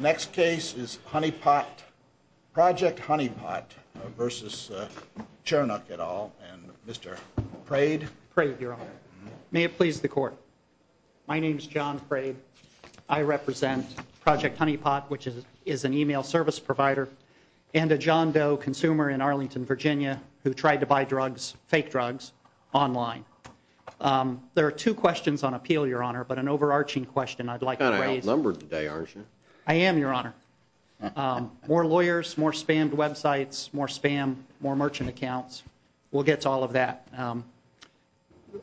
Next case is Honey Pot, Project Honey Pot v. Chernuk et al. and Mr. Praid. Praid, your honor. May it please the court. My name is John Praid. I represent Project Honey Pot, which is an email service provider and a John Doe consumer in Arlington, Virginia, who tried to buy drugs, fake drugs, online. There are two questions on appeal, your honor, but an overarching question I'd like to raise. You're kind of outnumbered today, aren't you? I am, your honor. More lawyers, more spammed websites, more spam, more merchant accounts. We'll get to all of that.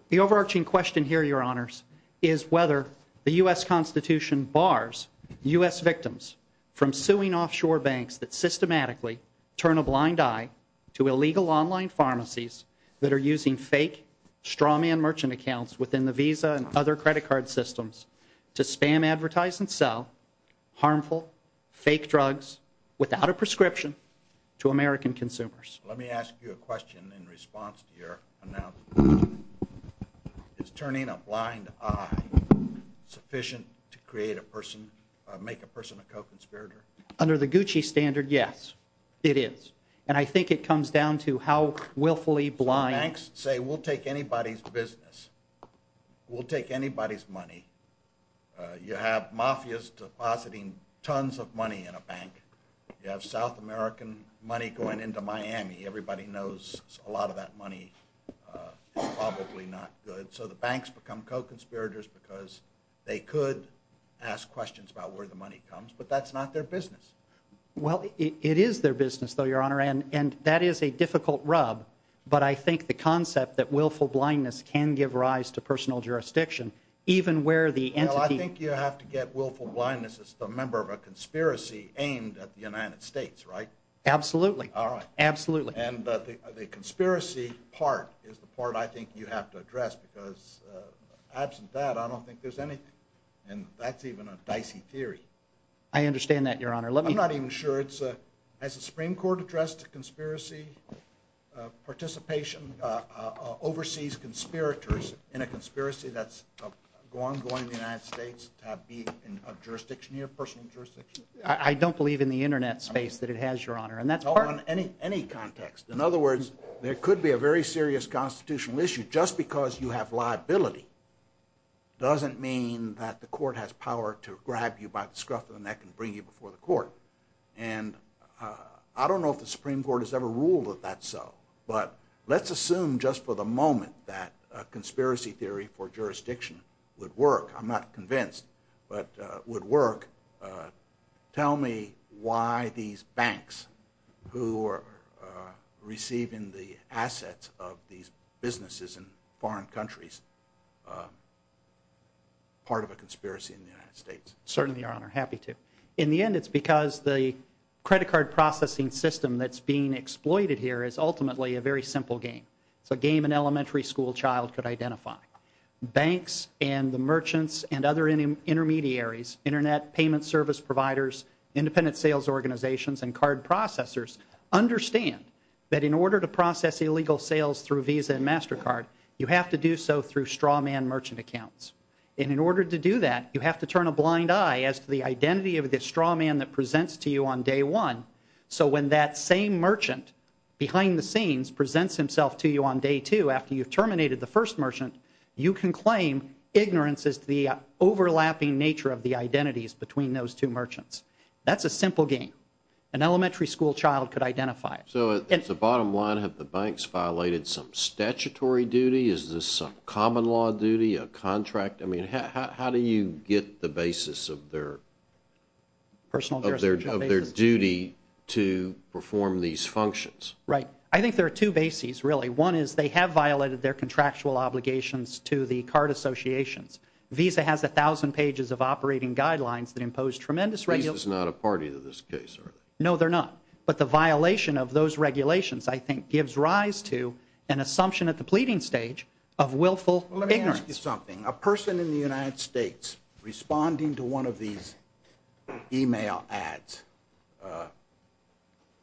The overarching question here, your honors, is whether the U.S. Constitution bars U.S. victims from suing offshore banks that systematically turn a blind eye to illegal online pharmacies that are using fake strawman merchant accounts within the Visa and other credit card systems to spam, advertise, and sell harmful, fake drugs without a prescription to American consumers. Let me ask you a question in response to your announcement. Is turning a blind eye sufficient to create a person, make a person a co-conspirator? Under the Gucci standard, yes, it is. And I think it comes down to how willfully blind... We'll take anybody's money. You have mafias depositing tons of money in a bank. You have South American money going into Miami. Everybody knows a lot of that money is probably not good. So the banks become co-conspirators because they could ask questions about where the money comes, but that's not their business. Well, it is their business, though, your honor, and that is a difficult rub, but I think the concept that willful blindness can give rise to personal jurisdiction, even where the entity... Well, I think you have to get willful blindness as the member of a conspiracy aimed at the United States, right? Absolutely. All right. Absolutely. And the conspiracy part is the part I think you have to address because absent that, I don't think there's anything. And that's even a dicey theory. I understand that, your honor. Let me... I'm not even sure. Has the Supreme Court addressed a conspiracy participation, overseas conspirators in a conspiracy that's ongoing in the United States to be in jurisdiction here, personal jurisdiction? I don't believe in the internet space that it has, your honor, and that's part... And I don't know if the Supreme Court has ever ruled that that's so, but let's assume just for the moment that a conspiracy theory for jurisdiction would work. I'm not convinced, but would work. Tell me why these banks who are receiving the assets of these businesses in foreign countries, part of a conspiracy in the United States? Certainly, your honor. Happy to. In the end, it's because the credit card processing system that's being exploited here is ultimately a very simple game. It's a game an elementary school child could identify. Banks and the merchants and other intermediaries, internet payment service providers, independent sales organizations, and card processors, understand that in order to process illegal sales through Visa and MasterCard, you have to do so through straw man merchant accounts. And in order to do that, you have to turn a blind eye as to the identity of the straw man that presents to you on day one, so when that same merchant behind the scenes presents himself to you on day two after you've terminated the first merchant, you can claim ignorance as to the overlapping nature of the identities between those two merchants. That's a simple game an elementary school child could identify. So at the bottom line, have the banks violated some statutory duty? Is this some common law duty, a contract? I mean, how do you get the basis of their duty to perform these functions? Right. I think there are two bases, really. One is they have violated their contractual obligations to the card associations. Visa has 1,000 pages of operating guidelines that impose tremendous regulations. Visa's not a party to this case, are they? No, they're not. But the violation of those regulations, I think, gives rise to an assumption at the pleading stage of willful ignorance. Let me ask you something. A person in the United States responding to one of these e-mail ads,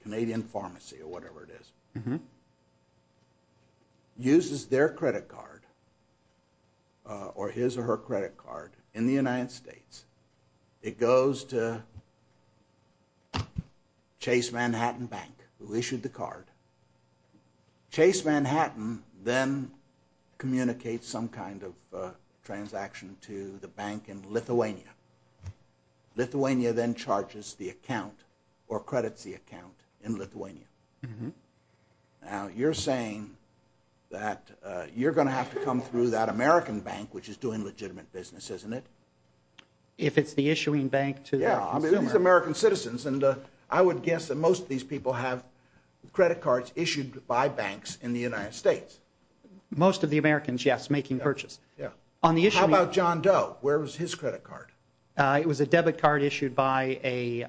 Canadian Pharmacy or whatever it is, uses their credit card or his or her credit card in the United States. It goes to Chase Manhattan Bank who issued the card. Chase Manhattan then communicates some kind of transaction to the bank in Lithuania. Lithuania then charges the account or credits the account in Lithuania. Now, you're saying that you're going to have to come through that American bank, which is doing legitimate business, isn't it? If it's the issuing bank to the consumer. Yeah, I mean, these are American citizens, and I would guess that most of these people have credit cards issued by banks in the United States. Most of the Americans, yes, making purchase. How about John Doe? Where was his credit card? It was a debit card issued by a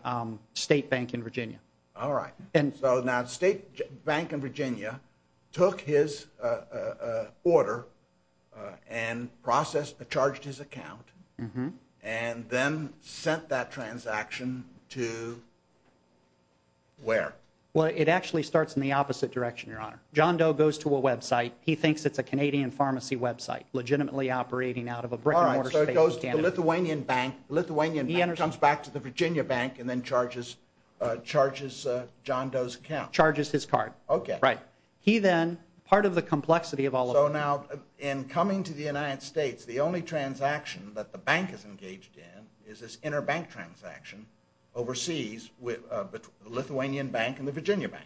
state bank in Virginia. All right. So now the state bank in Virginia took his order and processed, charged his account, and then sent that transaction to where? Well, it actually starts in the opposite direction, Your Honor. John Doe goes to a website. He thinks it's a Canadian Pharmacy website legitimately operating out of a brick-and-mortar state of Canada. All right, so it goes to the Lithuanian bank. The Lithuanian bank comes back to the Virginia bank and then charges John Doe's account. Charges his card. Okay. Right. He then, part of the complexity of all of this. So now, in coming to the United States, the only transaction that the bank is engaged in is this interbank transaction overseas with the Lithuanian bank and the Virginia bank,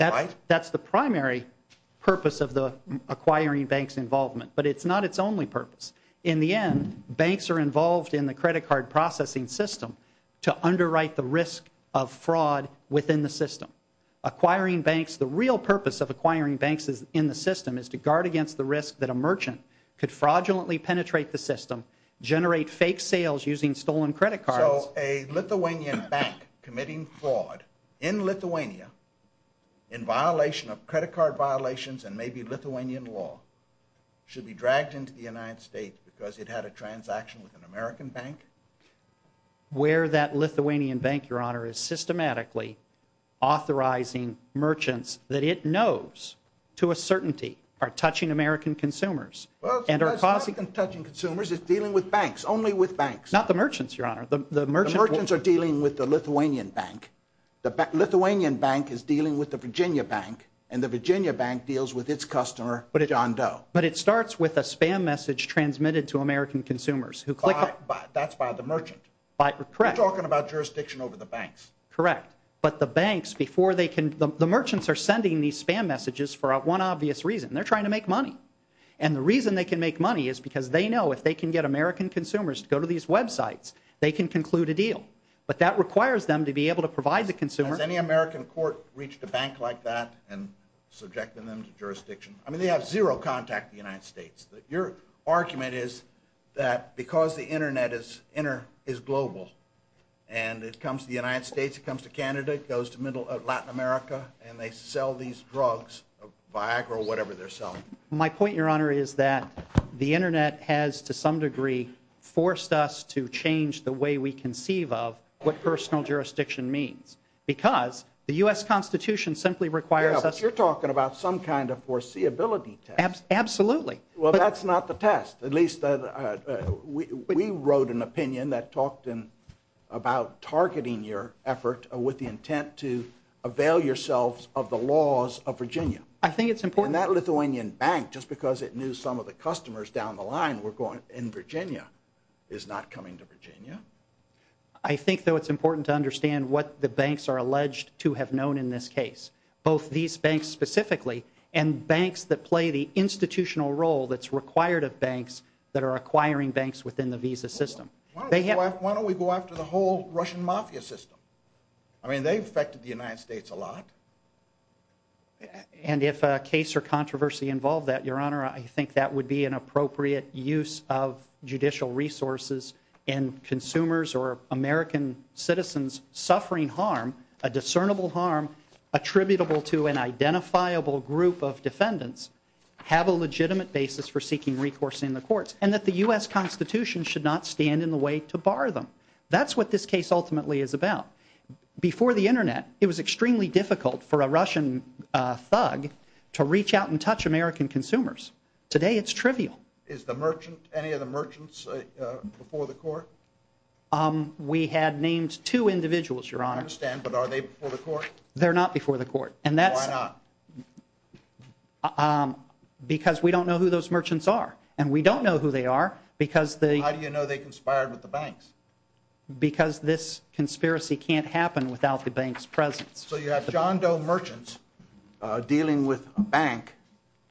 right? That's the primary purpose of the acquiring bank's involvement, but it's not its only purpose. In the end, banks are involved in the credit card processing system to underwrite the risk of fraud within the system. Acquiring banks, the real purpose of acquiring banks in the system is to guard against the risk that a merchant could fraudulently penetrate the system, generate fake sales using stolen credit cards. So a Lithuanian bank committing fraud in Lithuania in violation of credit card violations and maybe Lithuanian law should be dragged into the United States because it had a transaction with an American bank? Where that Lithuanian bank, Your Honor, is systematically authorizing merchants that it knows to a certainty are touching American consumers. Well, it's not touching consumers. It's dealing with banks, only with banks. Not the merchants, Your Honor. The merchants are dealing with the Lithuanian bank. The Lithuanian bank is dealing with the Virginia bank, and the Virginia bank deals with its customer, John Doe. But it starts with a spam message transmitted to American consumers who click on it. That's by the merchant. Correct. You're talking about jurisdiction over the banks. Correct. But the banks, the merchants are sending these spam messages for one obvious reason. They're trying to make money. And the reason they can make money is because they know if they can get American consumers to go to these websites, they can conclude a deal. But that requires them to be able to provide the consumer. Has any American court reached a bank like that and subjected them to jurisdiction? I mean, they have zero contact with the United States. Your argument is that because the Internet is global and it comes to the United States, it comes to Canada, it goes to Latin America, and they sell these drugs, Viagra, or whatever they're selling. My point, Your Honor, is that the Internet has, to some degree, forced us to change the way we conceive of what personal jurisdiction means. Because the U.S. Constitution simply requires us... Yeah, but you're talking about some kind of foreseeability test. Absolutely. Well, that's not the test. At least, we wrote an opinion that talked about targeting your effort with the intent to avail yourselves of the laws of Virginia. I think it's important... And that Lithuanian bank, just because it knew some of the customers down the line in Virginia, is not coming to Virginia. I think, though, it's important to understand what the banks are alleged to have known in this case, both these banks specifically and banks that play the institutional role that's required of banks that are acquiring banks within the visa system. Why don't we go after the whole Russian mafia system? I mean, they've affected the United States a lot. And if a case or controversy involved that, Your Honor, I think that would be an appropriate use of judicial resources in consumers or American citizens suffering harm, a discernible harm, attributable to an identifiable group of defendants, have a legitimate basis for seeking recourse in the courts, and that the U.S. Constitution should not stand in the way to bar them. That's what this case ultimately is about. Before the Internet, it was extremely difficult for a Russian thug to reach out and touch American consumers. Today, it's trivial. Is the merchant, any of the merchants, before the court? We had named two individuals, Your Honor. I understand, but are they before the court? They're not before the court. And that's... Why not? Because we don't know who those merchants are. And we don't know who they are because the... How do you know they conspired with the banks? Because this conspiracy can't happen without the bank's presence. So you have John Doe merchants dealing with a bank,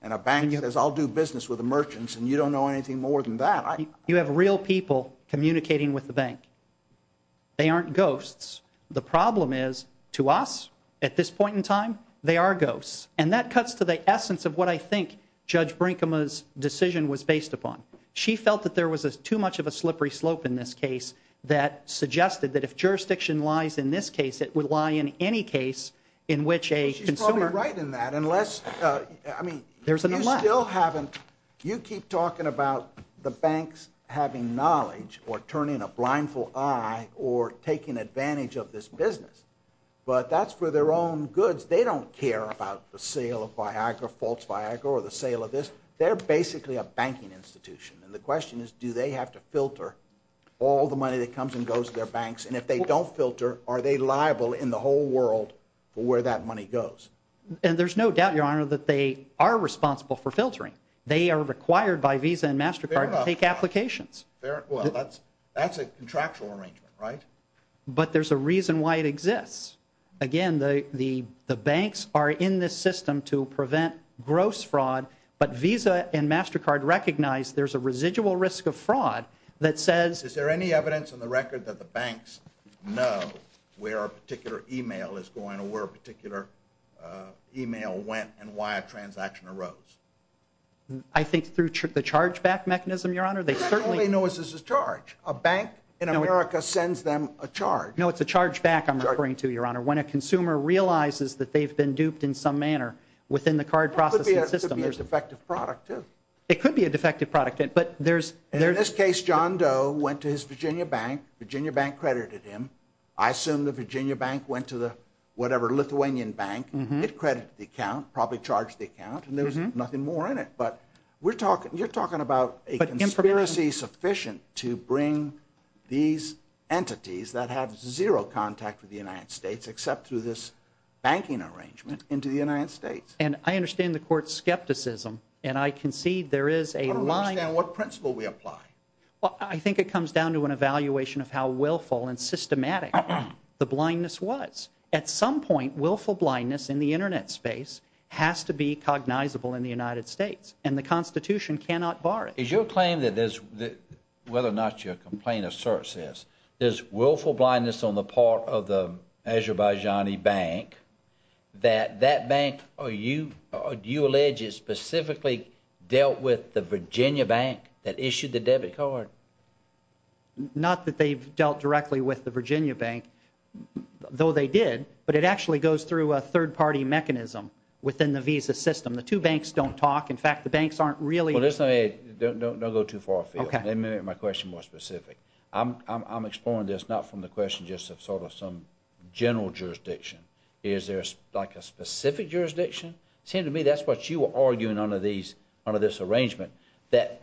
and a bank says, I'll do business with the merchants, and you don't know anything more than that? You have real people communicating with the bank. They aren't ghosts. The problem is, to us, at this point in time, they are ghosts. And that cuts to the essence of what I think Judge Brinkema's decision was based upon. She felt that there was too much of a slippery slope in this case that suggested that if jurisdiction lies in this case, it would lie in any case in which a consumer... She's probably right in that, unless... I mean, you still haven't... You keep talking about the banks having knowledge or turning a blindfold eye or taking advantage of this business, but that's for their own goods. They don't care about the sale of Viagra, false Viagra, or the sale of this. They're basically a banking institution, and the question is, do they have to filter all the money that comes and goes to their banks? And if they don't filter, are they liable in the whole world for where that money goes? And there's no doubt, Your Honor, that they are responsible for filtering. They are required by Visa and MasterCard to take applications. Well, that's a contractual arrangement, right? But there's a reason why it exists. Again, the banks are in this system to prevent gross fraud, but Visa and MasterCard recognize there's a residual risk of fraud that says... Is there any evidence on the record that the banks know where a particular e-mail is going or where a particular e-mail went and why a transaction arose? I think through the charge-back mechanism, Your Honor. They certainly know this is a charge. A bank in America sends them a charge. No, it's a charge-back I'm referring to, Your Honor. When a consumer realizes that they've been duped in some manner within the card processing system... It could be a defective product, too. It could be a defective product, but there's... In this case, John Doe went to his Virginia bank. Virginia bank credited him. I assume the Virginia bank went to the whatever Lithuanian bank. It credited the account, probably charged the account, and there was nothing more in it. But you're talking about a conspiracy sufficient to bring these entities that have zero contact with the United States except through this banking arrangement into the United States. And I understand the Court's skepticism, and I concede there is a line... I don't understand what principle we apply. Well, I think it comes down to an evaluation of how willful and systematic the blindness was. At some point, willful blindness in the Internet space has to be cognizable in the United States, and the Constitution cannot bar it. Is your claim that there's... Whether or not your complaint asserts this, there's willful blindness on the part of the Azerbaijani bank, that that bank, you allege, specifically dealt with the Virginia bank that issued the debit card? Not that they've dealt directly with the Virginia bank, though they did, but it actually goes through a third-party mechanism within the Visa system. The two banks don't talk. In fact, the banks aren't really... Well, listen, don't go too far afield. Let me make my question more specific. I'm exploring this not from the question just of sort of some general jurisdiction. Is there, like, a specific jurisdiction? It seemed to me that's what you were arguing under this arrangement, that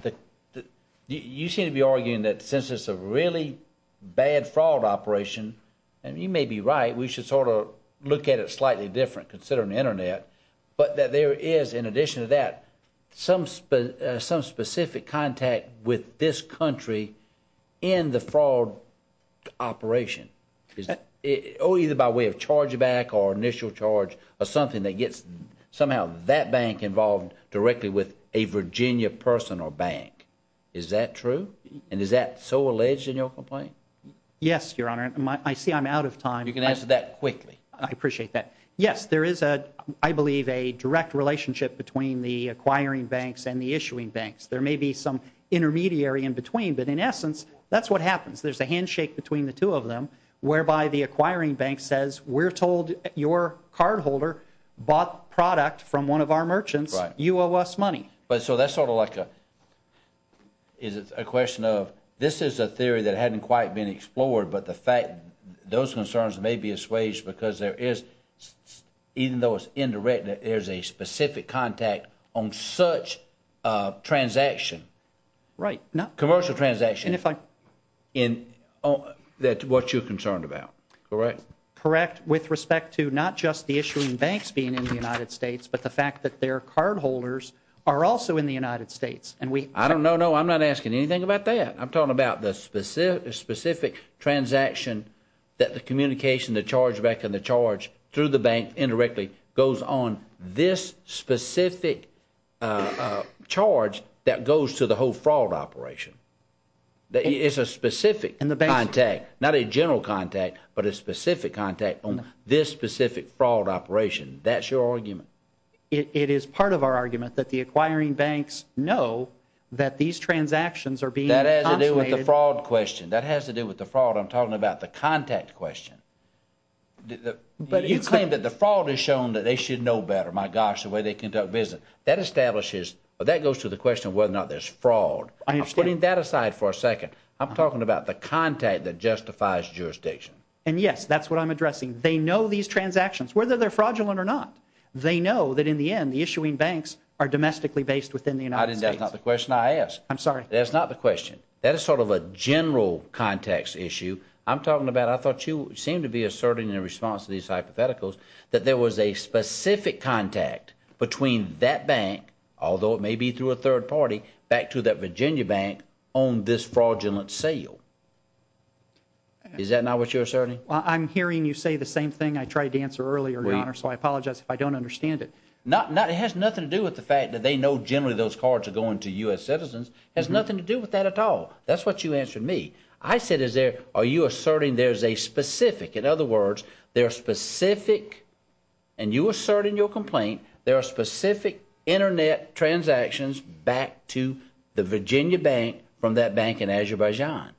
you seem to be arguing that since it's a really bad fraud operation, and you may be right, we should sort of look at it slightly different considering the Internet, but that there is, in addition to that, some specific contact with this country in the fraud operation, either by way of chargeback or initial charge or something that gets somehow that bank involved directly with a Virginia person or bank. Is that true? And is that so alleged in your complaint? Yes, Your Honor. I see I'm out of time. You can answer that quickly. I appreciate that. Yes, there is, I believe, a direct relationship between the acquiring banks and the issuing banks. There may be some intermediary in between, but in essence, that's what happens. There's a handshake between the two of them whereby the acquiring bank says, we're told your cardholder bought product from one of our merchants. You owe us money. So that's sort of like a question of this is a theory that hadn't quite been explored, but the fact those concerns may be assuaged because there is, even though it's indirect, there's a specific contact on such a transaction, commercial transaction, that's what you're concerned about, correct? Correct, with respect to not just the issuing banks being in the United States, but the fact that their cardholders are also in the United States. I don't know. No, I'm not asking anything about that. I'm talking about the specific transaction that the communication, the charge-back, and the charge through the bank indirectly goes on this specific charge that goes to the whole fraud operation. It's a specific contact, not a general contact, but a specific contact on this specific fraud operation. That's your argument. It is part of our argument that the acquiring banks know that these transactions are being consulated. That has to do with the fraud question. That has to do with the fraud. I'm talking about the contact question. You claim that the fraud has shown that they should know better, my gosh, the way they conduct business. That establishes, that goes to the question of whether or not there's fraud. I understand. I'm putting that aside for a second. I'm talking about the contact that justifies jurisdiction. And, yes, that's what I'm addressing. They know these transactions, whether they're fraudulent or not. They know that, in the end, the issuing banks are domestically based within the United States. That's not the question I asked. I'm sorry. That's not the question. That is sort of a general context issue. I'm talking about, I thought you seemed to be asserting in response to these hypotheticals, that there was a specific contact between that bank, although it may be through a third party, back to that Virginia bank on this fraudulent sale. Is that not what you're asserting? I'm hearing you say the same thing I tried to answer earlier, Your Honor, so I apologize if I don't understand it. It has nothing to do with the fact that they know generally those cards are going to U.S. citizens. It has nothing to do with that at all. That's what you answered me. I said, are you asserting there's a specific, in other words, there are specific, and you assert in your complaint, there are specific Internet transactions back to the Virginia bank from that bank in Azerbaijan.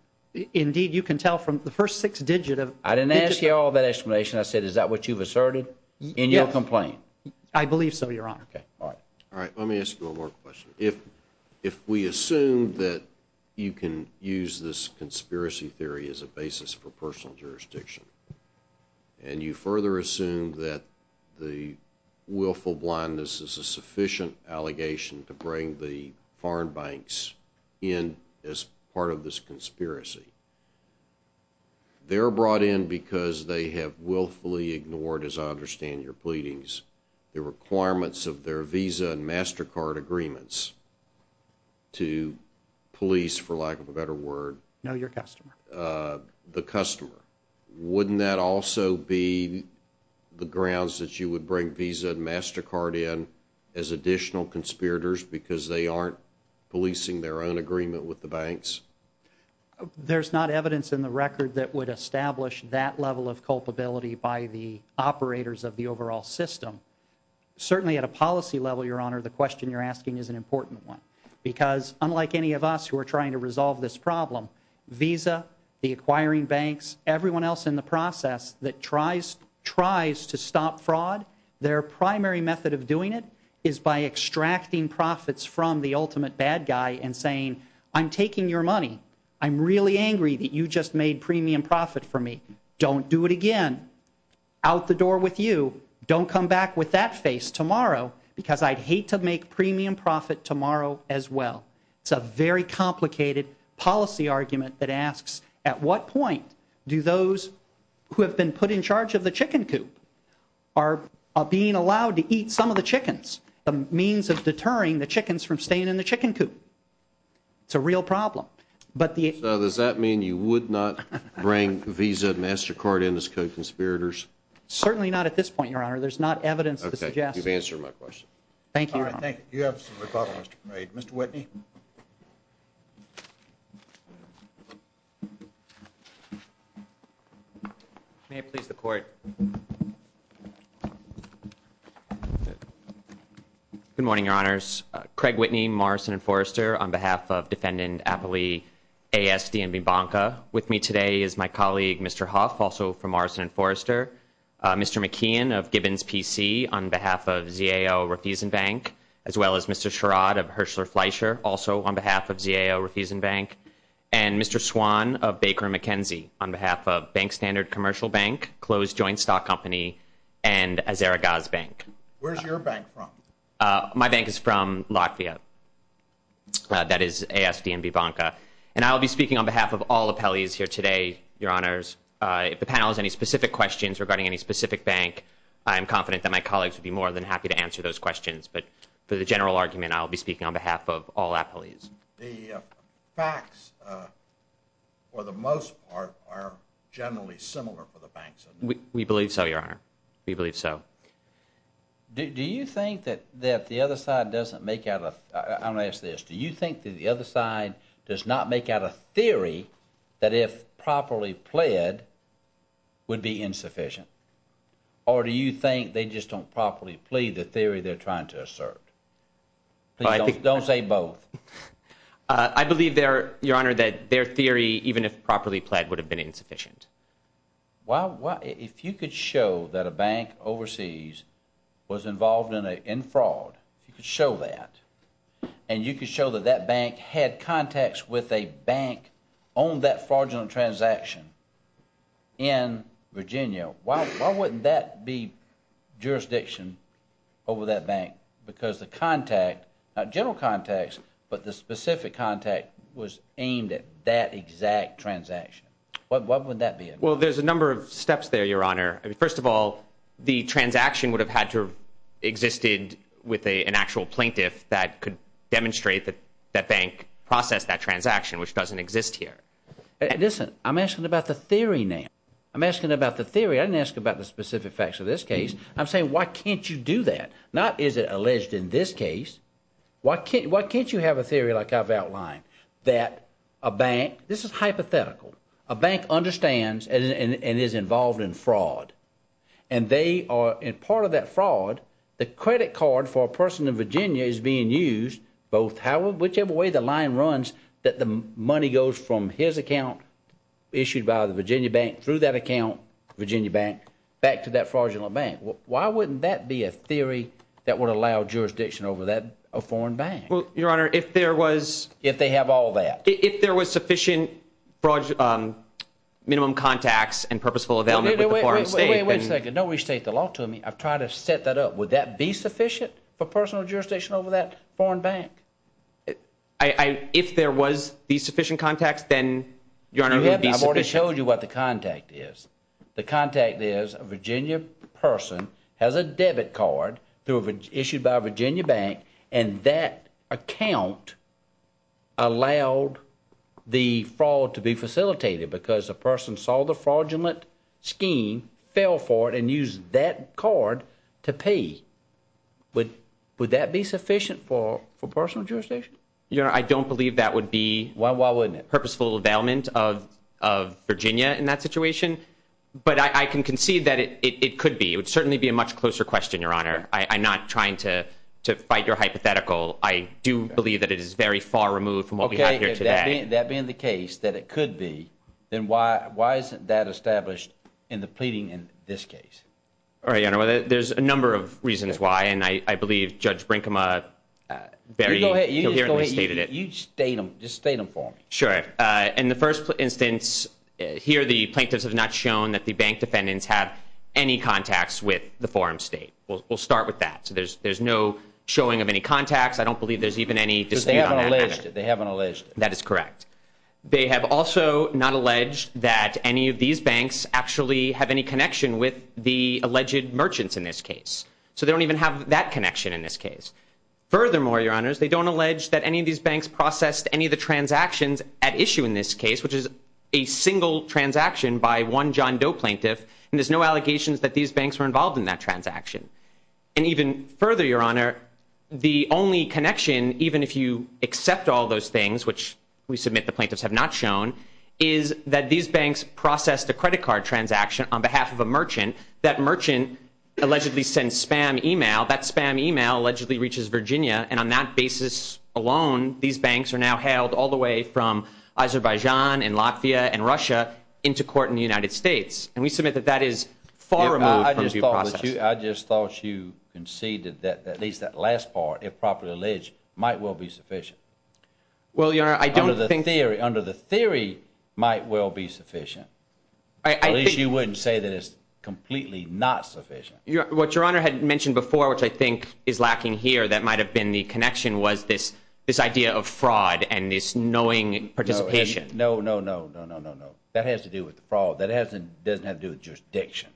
Indeed, you can tell from the first six digits. I didn't ask you all that explanation. I said, is that what you've asserted in your complaint? I believe so, Your Honor. All right. Let me ask you one more question. If we assume that you can use this conspiracy theory as a basis for personal jurisdiction, and you further assume that the willful blindness is a sufficient allegation to bring the foreign banks in as part of this conspiracy, they're brought in because they have willfully ignored, as I understand your pleadings, the requirements of their Visa and MasterCard agreements to police, for lack of a better word, the customer. Wouldn't that also be the grounds that you would bring Visa and MasterCard in as additional conspirators because they aren't policing their own agreement with the banks? There's not evidence in the record that would establish that level of culpability by the operators of the overall system. Certainly at a policy level, Your Honor, the question you're asking is an important one because unlike any of us who are trying to resolve this problem, Visa, the acquiring banks, everyone else in the process that tries to stop fraud, their primary method of doing it is by extracting profits from the ultimate bad guy and saying, I'm taking your money. I'm really angry that you just made premium profit for me. Don't do it again. Out the door with you. Don't come back with that face tomorrow because I'd hate to make premium profit tomorrow as well. It's a very complicated policy argument that asks, at what point do those who have been put in charge of the chicken coop are being allowed to eat some of the chickens, the means of deterring the chickens from staying in the chicken coop? It's a real problem. So does that mean you would not bring Visa and MasterCard in as co-conspirators? Certainly not at this point, Your Honor. There's not evidence to suggest. Okay. You've answered my question. Thank you, Your Honor. All right. Thank you. Mr. Whitney. May I please have the court? Good morning, Your Honors. Craig Whitney, Morrison & Forrester, on behalf of Defendant Appley A.S.D. and Bibanca. With me today is my colleague, Mr. Huff, also from Morrison & Forrester, Mr. McKeon of Gibbons PC, on behalf of ZAO Refusen Bank, as well as Mr. Sherrod of Herschler Fleischer, also on behalf of ZAO Refusen Bank, and Mr. Swan of Baker & McKenzie, on behalf of Bank Standard Commercial Bank, Closed Joint Stock Company, and Azaragoz Bank. Where's your bank from? My bank is from Latvia. That is A.S.D. and Bibanca. And I'll be speaking on behalf of all appellees here today, Your Honors. If the panel has any specific questions regarding any specific bank, I'm confident that my colleagues would be more than happy to answer those questions. But for the general argument, I'll be speaking on behalf of all appellees. The facts, for the most part, are generally similar for the banks. We believe so, Your Honor. We believe so. Do you think that the other side doesn't make out a – I'm going to ask this. would be insufficient? Or do you think they just don't properly plead the theory they're trying to assert? Please don't say both. I believe, Your Honor, that their theory, even if properly pled, would have been insufficient. If you could show that a bank overseas was involved in fraud, if you could show that, and you could show that that bank had contacts with a bank on that fraudulent transaction in Virginia, why wouldn't that be jurisdiction over that bank? Because the contact, not general contacts, but the specific contact, was aimed at that exact transaction. Why wouldn't that be it? Well, there's a number of steps there, Your Honor. First of all, the transaction would have had to have existed with an actual plaintiff that could demonstrate that that bank processed that transaction, which doesn't exist here. Listen, I'm asking about the theory now. I'm asking about the theory. I didn't ask about the specific facts of this case. I'm saying, why can't you do that? Not, is it alleged in this case? Why can't you have a theory like I've outlined, that a bank – this is hypothetical – a bank understands and is involved in fraud, and part of that fraud, the credit card for a person in Virginia is being used, whichever way the line runs, that the money goes from his account issued by the Virginia Bank through that account, Virginia Bank, back to that fraudulent bank. Why wouldn't that be a theory that would allow jurisdiction over a foreign bank? Well, Your Honor, if there was – If they have all that. If there was sufficient minimum contacts and purposeful availment with the foreign state – Wait a second. Don't restate the law to me. I've tried to set that up. Would that be sufficient for personal jurisdiction over that foreign bank? If there was these sufficient contacts, then, Your Honor, it would be sufficient. I've already showed you what the contact is. The contact is a Virginia person has a debit card issued by a Virginia Bank, and that account allowed the fraud to be facilitated because a person saw the fraudulent scheme, fell for it, and used that card to pay. Would that be sufficient for personal jurisdiction? Your Honor, I don't believe that would be – Why wouldn't it? Purposeful availment of Virginia in that situation, but I can concede that it could be. It would certainly be a much closer question, Your Honor. I'm not trying to fight your hypothetical. I do believe that it is very far removed from what we have here today. Okay. If that being the case, that it could be, then why isn't that established in the pleading in this case? All right, Your Honor, well, there's a number of reasons why, and I believe Judge Brinkema very coherently stated it. You just go ahead. You state them. Just state them for me. Sure. In the first instance, here the plaintiffs have not shown that the bank defendants have any contacts with the foreign state. We'll start with that. So there's no showing of any contacts. I don't believe there's even any dispute on that matter. Because they haven't alleged it. They haven't alleged it. That is correct. They have also not alleged that any of these banks actually have any connection with the alleged merchants in this case. So they don't even have that connection in this case. Furthermore, Your Honors, they don't allege that any of these banks processed any of the transactions at issue in this case, which is a single transaction by one John Doe plaintiff, and there's no allegations that these banks were involved in that transaction. And even further, Your Honor, the only connection, even if you accept all those things, which we submit the plaintiffs have not shown, is that these banks processed a credit card transaction on behalf of a merchant. That merchant allegedly sent spam email. That spam email allegedly reaches Virginia, and on that basis alone, these banks are now hailed all the way from Azerbaijan and Latvia and Russia into court in the United States. And we submit that that is far removed from due process. I just thought you conceded that at least that last part, if properly alleged, might well be sufficient. Well, Your Honor, I don't think— Under the theory, might well be sufficient. At least you wouldn't say that it's completely not sufficient. What Your Honor had mentioned before, which I think is lacking here, that might have been the connection, was this idea of fraud and this knowing participation. No, no, no, no, no, no, no. That has to do with the fraud. That doesn't have to do with jurisdiction.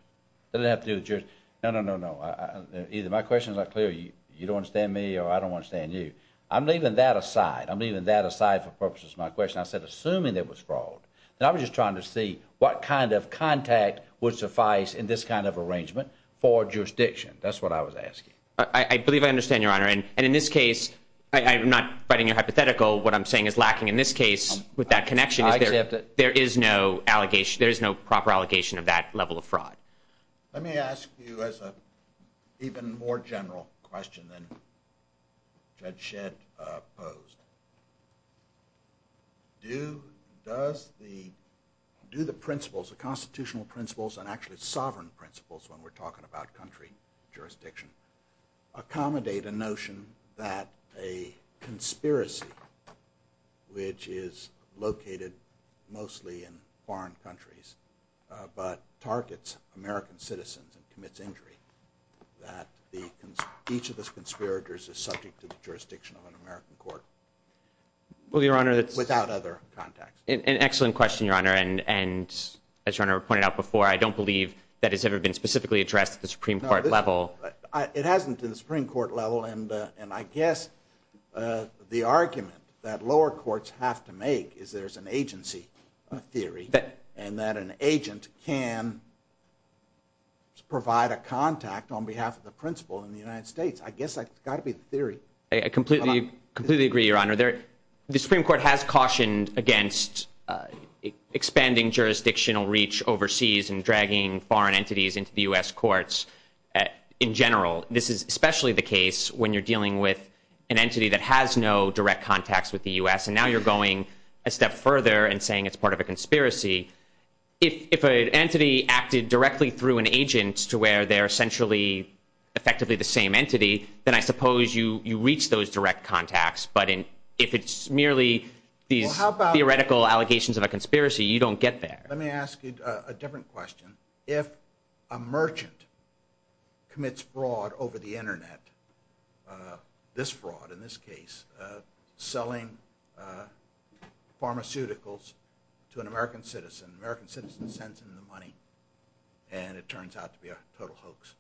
That doesn't have to do with jurisdiction. No, no, no, no. Either my question is not clear, or you don't understand me, or I don't understand you. I'm leaving that aside. I'm leaving that aside for purposes of my question. I said assuming there was fraud. And I was just trying to see what kind of contact would suffice in this kind of arrangement for jurisdiction. That's what I was asking. I believe I understand, Your Honor. And in this case, I'm not fighting your hypothetical. What I'm saying is lacking in this case with that connection is there is no proper allegation of that level of fraud. Let me ask you as an even more general question than Judge Shedd posed. Do the principles, the constitutional principles, and actually sovereign principles when we're talking about country jurisdiction, accommodate a notion that a conspiracy, which is located mostly in foreign countries, but targets American citizens and commits injury, that each of those conspirators is subject to the jurisdiction of an American court without other contacts? An excellent question, Your Honor. And as Your Honor pointed out before, I don't believe that has ever been specifically addressed at the Supreme Court level. It hasn't at the Supreme Court level. And I guess the argument that lower courts have to make is there's an agency theory and that an agent can provide a contact on behalf of the principal in the United States. I guess that's got to be the theory. I completely agree, Your Honor. The Supreme Court has cautioned against expanding jurisdictional reach overseas and dragging foreign entities into the U.S. courts in general. This is especially the case when you're dealing with an entity that has no direct contacts with the U.S., and now you're going a step further and saying it's part of a conspiracy. If an entity acted directly through an agent to where they're essentially effectively the same entity, then I suppose you reach those direct contacts. But if it's merely these theoretical allegations of a conspiracy, you don't get there. Let me ask you a different question. If a merchant commits fraud over the Internet, this fraud in this case, selling pharmaceuticals to an American citizen, the American citizen sends him the money and it turns out to be a total hoax,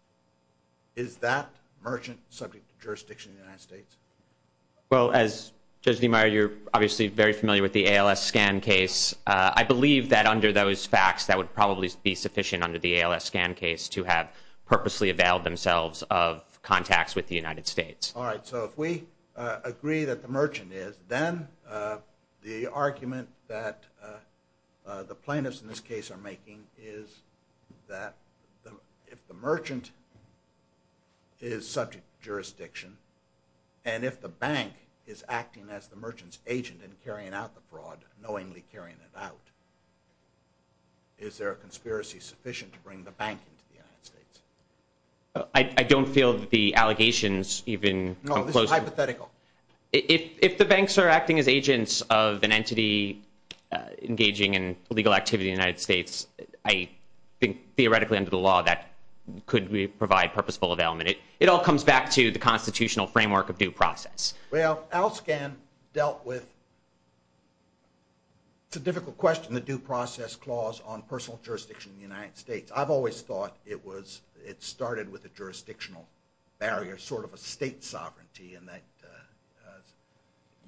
is that merchant subject to jurisdiction in the United States? Well, as Judge Demeyer, you're obviously very familiar with the ALS scan case. I believe that under those facts that would probably be sufficient under the ALS scan case to have purposely availed themselves of contacts with the United States. All right. So if we agree that the merchant is, then the argument that the plaintiffs in this case are making is that if the merchant is subject to jurisdiction and if the bank is acting as the merchant's agent in carrying out the fraud, knowingly carrying it out, is there a conspiracy sufficient to bring the bank into the United States? I don't feel that the allegations even come close. No, this is hypothetical. If the banks are acting as agents of an entity engaging in illegal activity in the United States, I think theoretically under the law that could provide purposeful availment. It all comes back to the constitutional framework of due process. Well, ALS scan dealt with, it's a difficult question, the due process clause on personal jurisdiction in the United States. I've always thought it started with a jurisdictional barrier, sort of a state sovereignty in that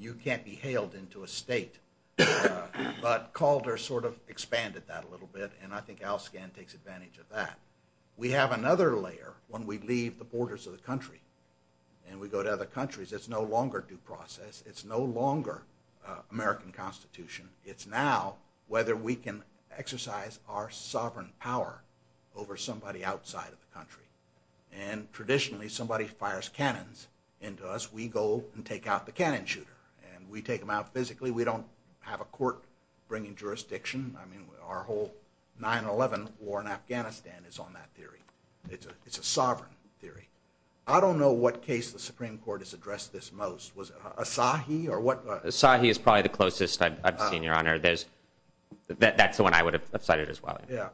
you can't be hailed into a state. But Calder sort of expanded that a little bit, and I think ALS scan takes advantage of that. We have another layer when we leave the borders of the country and we go to other countries. It's no longer due process. It's no longer American Constitution. It's now whether we can exercise our sovereign power over somebody outside of the country. And traditionally somebody fires cannons into us, we go and take out the cannon shooter. And we take him out physically. We don't have a court bringing jurisdiction. I mean our whole 9-11 war in Afghanistan is on that theory. It's a sovereign theory. I don't know what case the Supreme Court has addressed this most. Was it Asahi or what? Asahi is probably the closest I've seen, Your Honor. That's the one I would have cited as well. Yeah.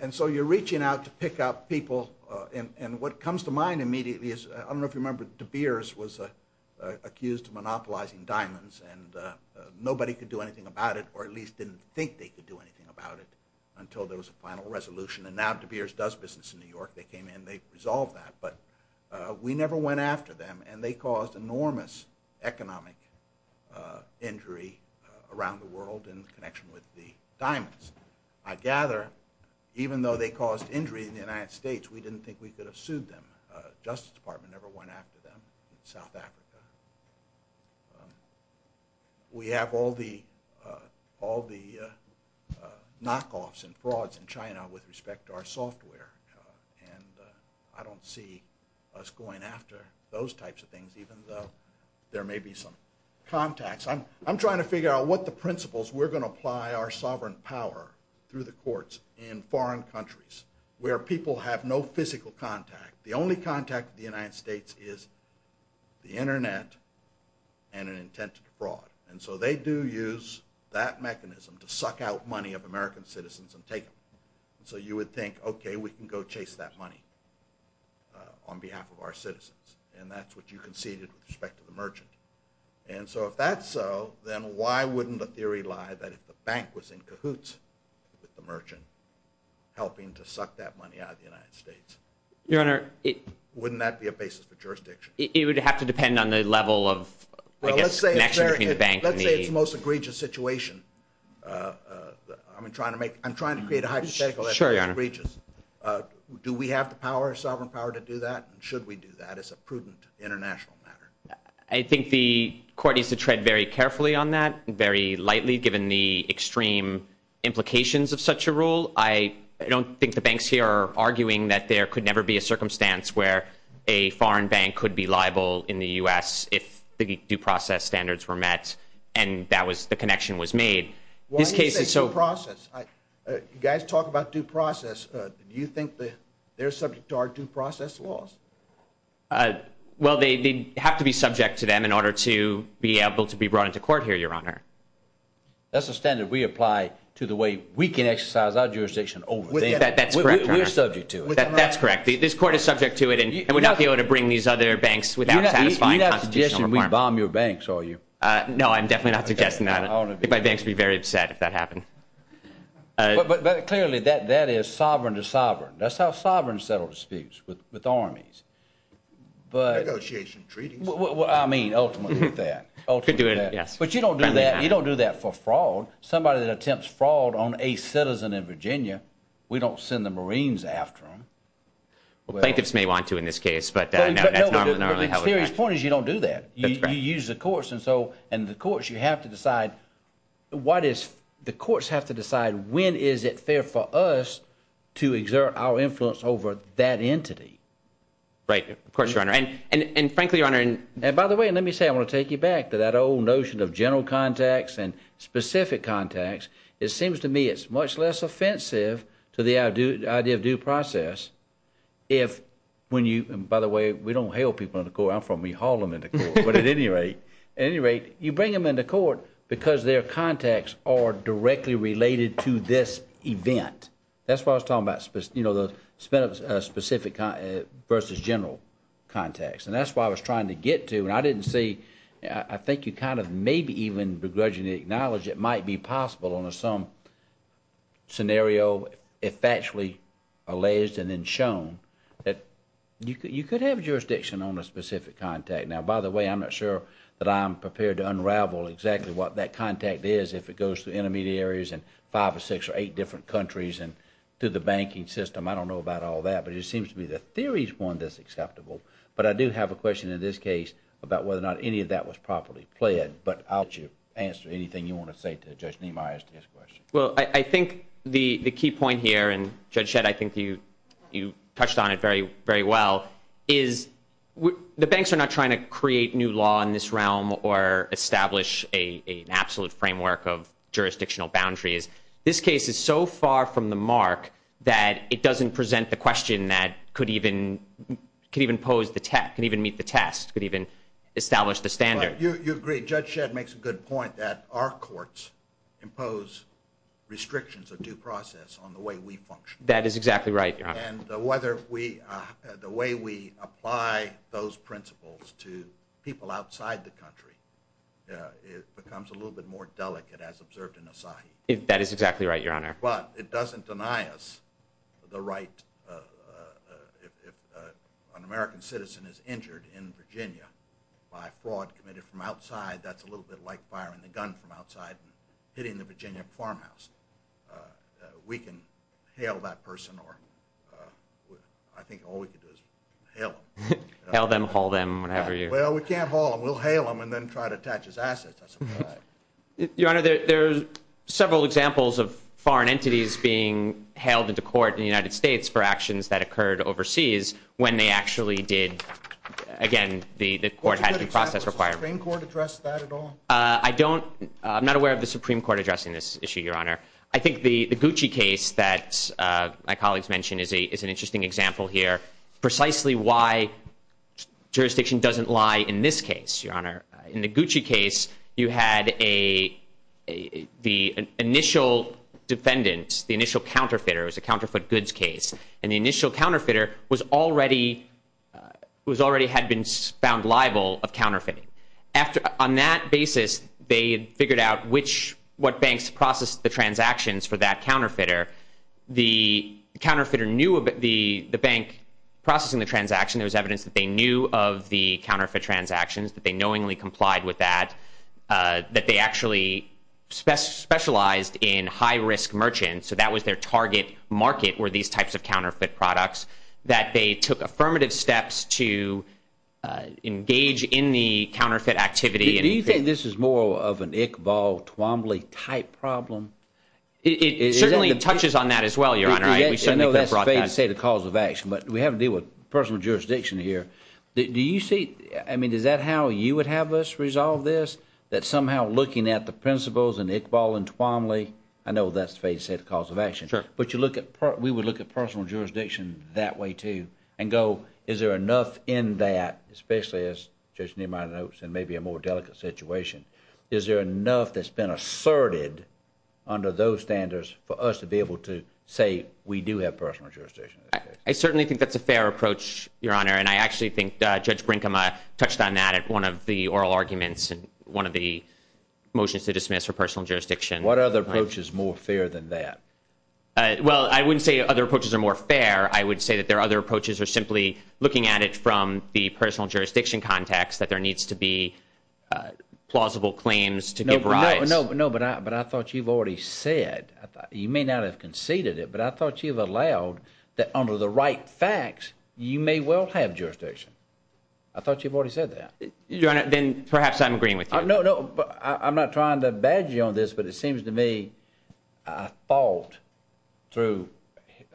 And so you're reaching out to pick up people, and what comes to mind immediately is, I don't know if you remember, De Beers was accused of monopolizing diamonds, and nobody could do anything about it, or at least didn't think they could do anything about it, until there was a final resolution. And now De Beers does business in New York. They came in and they resolved that. But we never went after them, and they caused enormous economic injury around the world in connection with the diamonds. I gather even though they caused injury in the United States, we didn't think we could have sued them. The Justice Department never went after them in South Africa. We have all the knockoffs and frauds in China with respect to our software, and I don't see us going after those types of things, even though there may be some contacts. I'm trying to figure out what the principles we're going to apply are sovereign power through the courts in foreign countries where people have no physical contact. The only contact with the United States is the Internet and an intent to defraud. And so they do use that mechanism to suck out money of American citizens and take them. So you would think, okay, we can go chase that money on behalf of our citizens, and that's what you conceded with respect to the merchant. And so if that's so, then why wouldn't the theory lie that if the bank was in cahoots with the merchant helping to suck that money out of the United States? Your Honor, it... Wouldn't that be a basis for jurisdiction? It would have to depend on the level of, I guess, connection between the bank and the... Well, let's say it's the most egregious situation. I'm trying to make... I'm trying to create a hypothetical that's pretty egregious. Sure, Your Honor. Do we have the power, sovereign power to do that? And should we do that as a prudent international matter? I think the court needs to tread very carefully on that, very lightly given the extreme implications of such a rule. I don't think the banks here are arguing that there could never be a circumstance where a foreign bank could be liable in the U.S. if the due process standards were met and that was... the connection was made. Well, I didn't say due process. You guys talk about due process. Do you think they're subject to our due process laws? Well, they have to be subject to them in order to be able to be brought into court here, Your Honor. That's a standard we apply to the way we can exercise our jurisdiction over. That's correct, Your Honor. We're subject to it. That's correct. This court is subject to it and would not be able to bring these other banks without a satisfying constitutional requirement. You're not suggesting we bomb your banks, are you? No, I'm definitely not suggesting that. I think my banks would be very upset if that happened. But clearly, that is sovereign to sovereign. That's how sovereigns settle disputes with armies. But... Negotiation treaties. I mean, ultimately, that. But you don't do that for fraud. Somebody that attempts fraud on a citizen in Virginia, we don't send the Marines after them. Plaintiffs may want to in this case, but that's normally how it works. But the serious point is you don't do that. You use the courts, and so in the courts, you have to decide what is... The courts have to decide when is it fair for us to exert our influence over that entity. Right, of course, Your Honor. And frankly, Your Honor... And by the way, let me say, I want to take you back to that old notion of general contacts and specific contacts. It seems to me it's much less offensive to the idea of due process if, when you... And by the way, we don't hail people in the court. I'm from E Harlem in the court. But at any rate, you bring them into court because their contacts are directly related to this event. That's why I was talking about, you know, the specific versus general contacts. And that's why I was trying to get to, and I didn't see... I think you kind of maybe even begrudgingly acknowledge it might be possible under some scenario if actually alleged and then shown that you could have jurisdiction on a specific contact. Now, by the way, I'm not sure that I'm prepared to unravel exactly what that contact is if it goes through intermediate areas and five or six or eight different countries and through the banking system. I don't know about all that, but it seems to me the theory's one that's acceptable. But I do have a question in this case about whether or not any of that was properly played. But I'll let you answer anything you want to say to Judge Niemeyer as to his question. Well, I think the key point here, and Judge Shedd, I think you touched on it very well, is the banks are not trying to create new law in this realm or establish an absolute framework of jurisdictional boundaries. This case is so far from the mark that it doesn't present the question that could even pose the test, that could even meet the test, could even establish the standard. You agree. Judge Shedd makes a good point that our courts impose restrictions of due process on the way we function. That is exactly right, Your Honor. And the way we apply those principles to people outside the country, it becomes a little bit more delicate, as observed in Asahi. That is exactly right, Your Honor. But it doesn't deny us the right... If an American citizen is injured in Virginia by fraud committed from outside, that's a little bit like firing a gun from outside and hitting the Virginia farmhouse. We can hail that person, or I think all we can do is hail them. Hail them, haul them, whatever you... Well, we can't haul them. We'll hail them and then try to attach his assets, I suppose. Your Honor, there are several examples of foreign entities being hailed into court in the United States for actions that occurred overseas when they actually did... Again, the court had due process requirement. Does the Supreme Court address that at all? I don't... I'm not aware of the Supreme Court addressing this issue, Your Honor. I think the Gucci case that my colleagues mentioned is an interesting example here, precisely why jurisdiction doesn't lie in this case, Your Honor. In the Gucci case, you had a... The initial defendant, the initial counterfeiter, it was a counterfeit goods case, and the initial counterfeiter was already... already had been found liable of counterfeiting. On that basis, they had figured out what banks processed the transactions for that counterfeiter. The counterfeiter knew the bank processing the transaction. There was evidence that they knew of the counterfeit transactions, that they knowingly complied with that, that they actually specialized in high-risk merchants, so that was their target market were these types of counterfeit products, that they took affirmative steps to engage in the counterfeit activity. Do you think this is more of an Iqbal-Tuomly-type problem? It certainly touches on that as well, Your Honor. I know that's fair to say the cause of action, but we have to deal with personal jurisdiction here. Do you see... I mean, is that how you would have us resolve this, that somehow looking at the principles in Iqbal and Tuomly... I know that's fair to say the cause of action. Sure. But you look at... We would look at personal jurisdiction that way, too, and go, is there enough in that, especially as Judge Niemeyer notes, and maybe a more delicate situation, is there enough that's been asserted under those standards for us to be able to say we do have personal jurisdiction in this case? I certainly think that's a fair approach, Your Honor, and I actually think Judge Brinkema touched on that at one of the oral arguments in one of the motions to dismiss for personal jurisdiction. What other approach is more fair than that? Well, I wouldn't say other approaches are more fair. I would say that there are other approaches or simply looking at it from the personal jurisdiction context that there needs to be plausible claims to give rise. No, but I thought you've already said... You may not have conceded it, but I thought you've allowed that under the right facts you may well have jurisdiction. I thought you've already said that. Your Honor, then perhaps I'm agreeing with you. No, no, I'm not trying to badger you on this, but it seems to me a fault through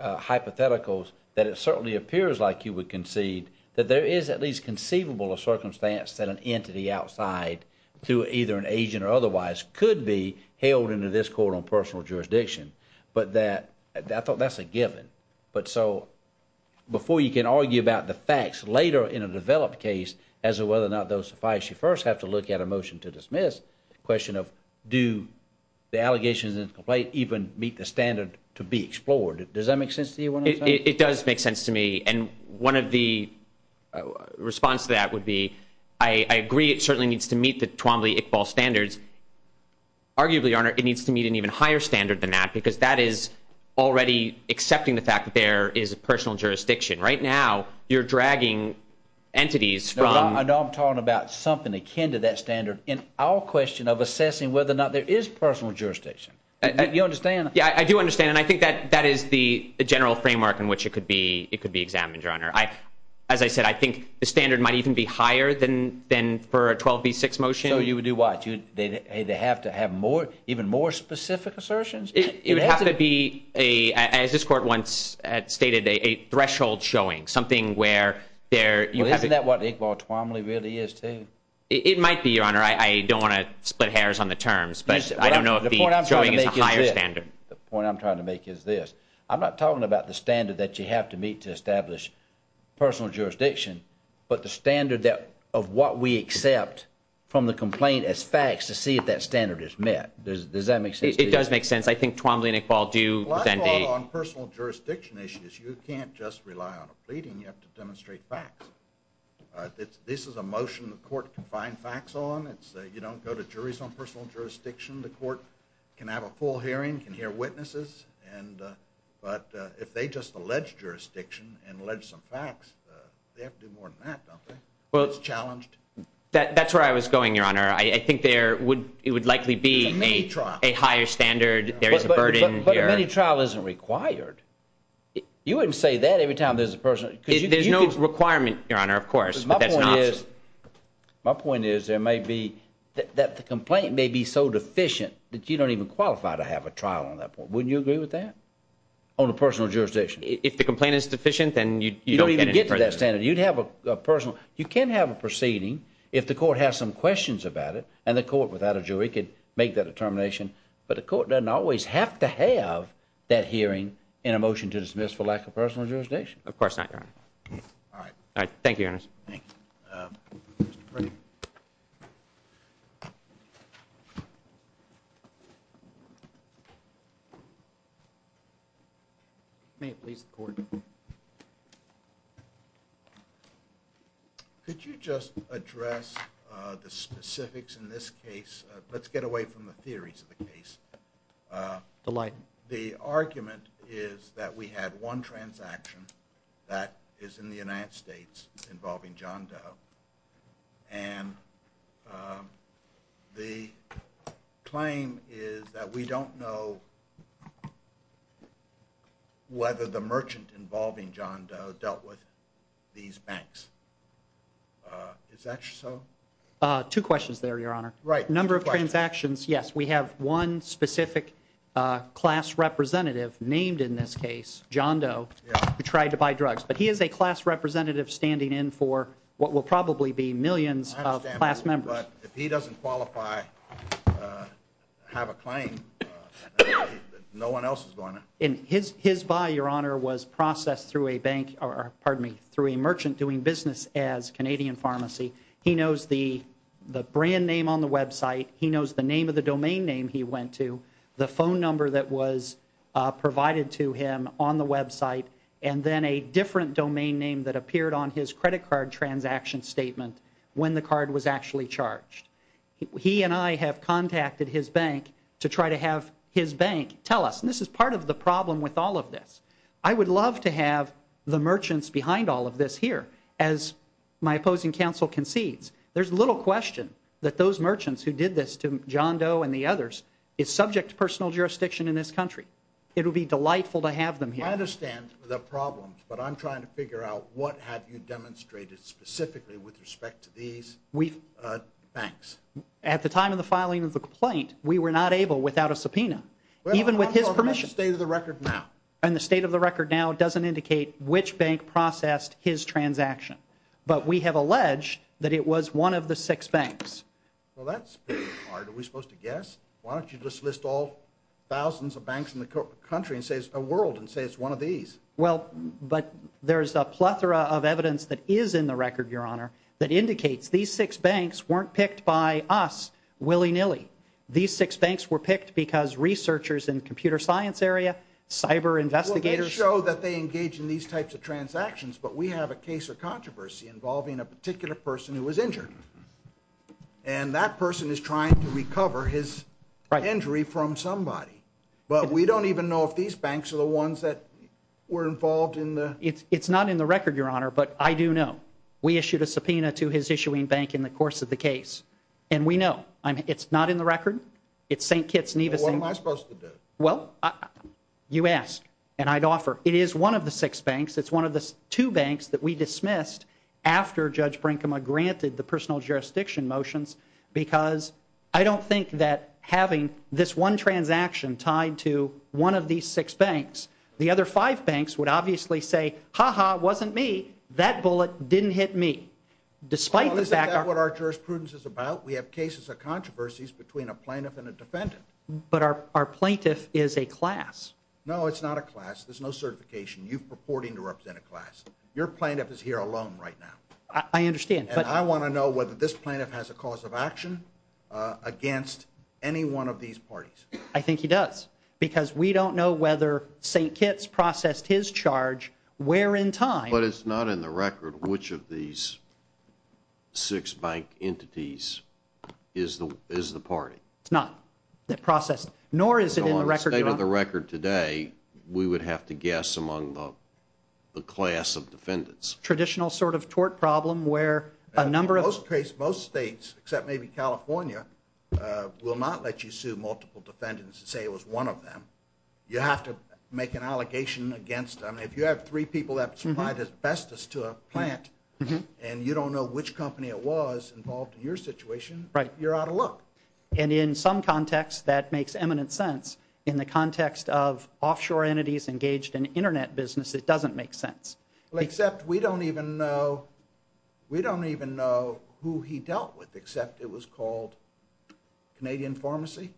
hypotheticals that it certainly appears like you would concede that there is at least conceivable a circumstance that an entity outside, through either an agent or otherwise, could be held under this quote-unquote personal jurisdiction. But that... I thought that's a given. But so before you can argue about the facts later in a developed case you first have to look at a motion to dismiss, the question of do the allegations in the complaint even meet the standard to be explored? Does that make sense to you what I'm saying? It does make sense to me, and one of the responses to that would be I agree it certainly needs to meet the Twombly-Iqbal standards. Arguably, Your Honor, it needs to meet an even higher standard than that because that is already accepting the fact that there is a personal jurisdiction. Right now you're dragging entities from... No, I know I'm talking about something akin to that standard. In our question of assessing whether or not there is personal jurisdiction. You understand? Yeah, I do understand, and I think that is the general framework in which it could be examined, Your Honor. As I said, I think the standard might even be higher than for a 12b-6 motion. So you would do what? They have to have even more specific assertions? It would have to be, as this Court once stated, a threshold showing, something where there... Well, isn't that what Iqbal-Twombly really is, too? It might be, Your Honor. I don't want to split hairs on the terms, but I don't know if he's showing a higher standard. The point I'm trying to make is this. I'm not talking about the standard that you have to meet to establish personal jurisdiction, but the standard of what we accept from the complaint as facts to see if that standard is met. Does that make sense to you? It does make sense. I think Twombly and Iqbal do... On personal jurisdiction issues, you can't just rely on a pleading. You have to demonstrate facts. This is a motion the Court can find facts on. You don't go to juries on personal jurisdiction. The Court can have a full hearing, can hear witnesses, but if they just allege jurisdiction and allege some facts, they have to do more than that, don't they? It's challenged. That's where I was going, Your Honor. I think it would likely be a higher standard. There is a burden. But a mini-trial isn't required. You wouldn't say that every time there's a personal... There's no requirement, Your Honor, of course, but that's an option. My point is there may be... that the complaint may be so deficient that you don't even qualify to have a trial on that point. Wouldn't you agree with that on a personal jurisdiction? If the complaint is deficient, then you don't get any further... You don't even get to that standard. You'd have a personal... You can have a proceeding if the Court has some questions about it, and the Court, without a jury, could make that determination, but the Court doesn't always have to have that hearing in a motion to dismiss for lack of personal jurisdiction. Of course not, Your Honor. All right. All right. Thank you, Your Honor. Thank you. May it please the Court. Could you just address the specifics in this case? Let's get away from the theories of the case. Delight. The argument is that we had one transaction that is in the United States involving John Doe, and the claim is that we don't know whether the merchant involving John Doe dealt with these banks. Is that so? Two questions there, Your Honor. Right. Number of transactions, yes. We have one specific class representative named in this case, John Doe, who tried to buy drugs, but he is a class representative standing in for what will probably be millions of class members. I understand, but if he doesn't qualify, have a claim, no one else is going to. His buy, Your Honor, was processed through a bank, or pardon me, through a merchant doing business as Canadian Pharmacy. He knows the brand name on the website. He knows the name of the domain name he went to, the phone number that was provided to him on the website, and then a different domain name that appeared on his credit card transaction statement when the card was actually charged. He and I have contacted his bank to try to have his bank tell us, and this is part of the problem with all of this, I would love to have the merchants behind all of this here. As my opposing counsel concedes, there's little question that those merchants who did this to John Doe and the others is subject to personal jurisdiction in this country. It would be delightful to have them here. I understand the problems, but I'm trying to figure out what have you demonstrated specifically with respect to these banks. At the time of the filing of the complaint, we were not able without a subpoena, even with his permission. I'm talking about the state of the record now. And the state of the record now doesn't indicate which bank processed his transaction, but we have alleged that it was one of the six banks. Well, that's pretty hard. Are we supposed to guess? Why don't you just list all thousands of banks in the country and say it's a world and say it's one of these? Well, but there's a plethora of evidence that is in the record, Your Honor, that indicates these six banks weren't picked by us willy-nilly. These six banks were picked because researchers in computer science area, cyber investigators. Well, they show that they engage in these types of transactions, but we have a case of controversy involving a particular person who was injured, and that person is trying to recover his injury from somebody. But we don't even know if these banks are the ones that were involved in the... It's not in the record, Your Honor, but I do know. We issued a subpoena to his issuing bank in the course of the case, and we know. It's not in the record. It's St. Kitts, Nevis. What am I supposed to do? Well, you asked, and I'd offer. It is one of the six banks. It's one of the two banks that we dismissed after Judge Brinkema granted the personal jurisdiction motions because I don't think that having this one transaction tied to one of these six banks, the other five banks would obviously say, Ha-ha, it wasn't me. That bullet didn't hit me. Well, isn't that what our jurisprudence is about? We have cases of controversies between a plaintiff and a defendant. But our plaintiff is a class. No, it's not a class. There's no certification. You're purporting to represent a class. Your plaintiff is here alone right now. I understand. And I want to know whether this plaintiff has a cause of action against any one of these parties. I think he does because we don't know whether St. Kitts processed his charge where in time. But it's not in the record which of these six bank entities is the party. We would have to guess among the class of defendants. Traditional sort of tort problem where a number of Most states, except maybe California, will not let you sue multiple defendants and say it was one of them. You have to make an allegation against them. If you have three people that supplied asbestos to a plant and you don't know which company it was involved in your situation, you're out of luck. And in some context, that makes eminent sense. In the context of offshore entities engaged in Internet business, it doesn't make sense. Except we don't even know who he dealt with except it was called Canadian Pharmacy.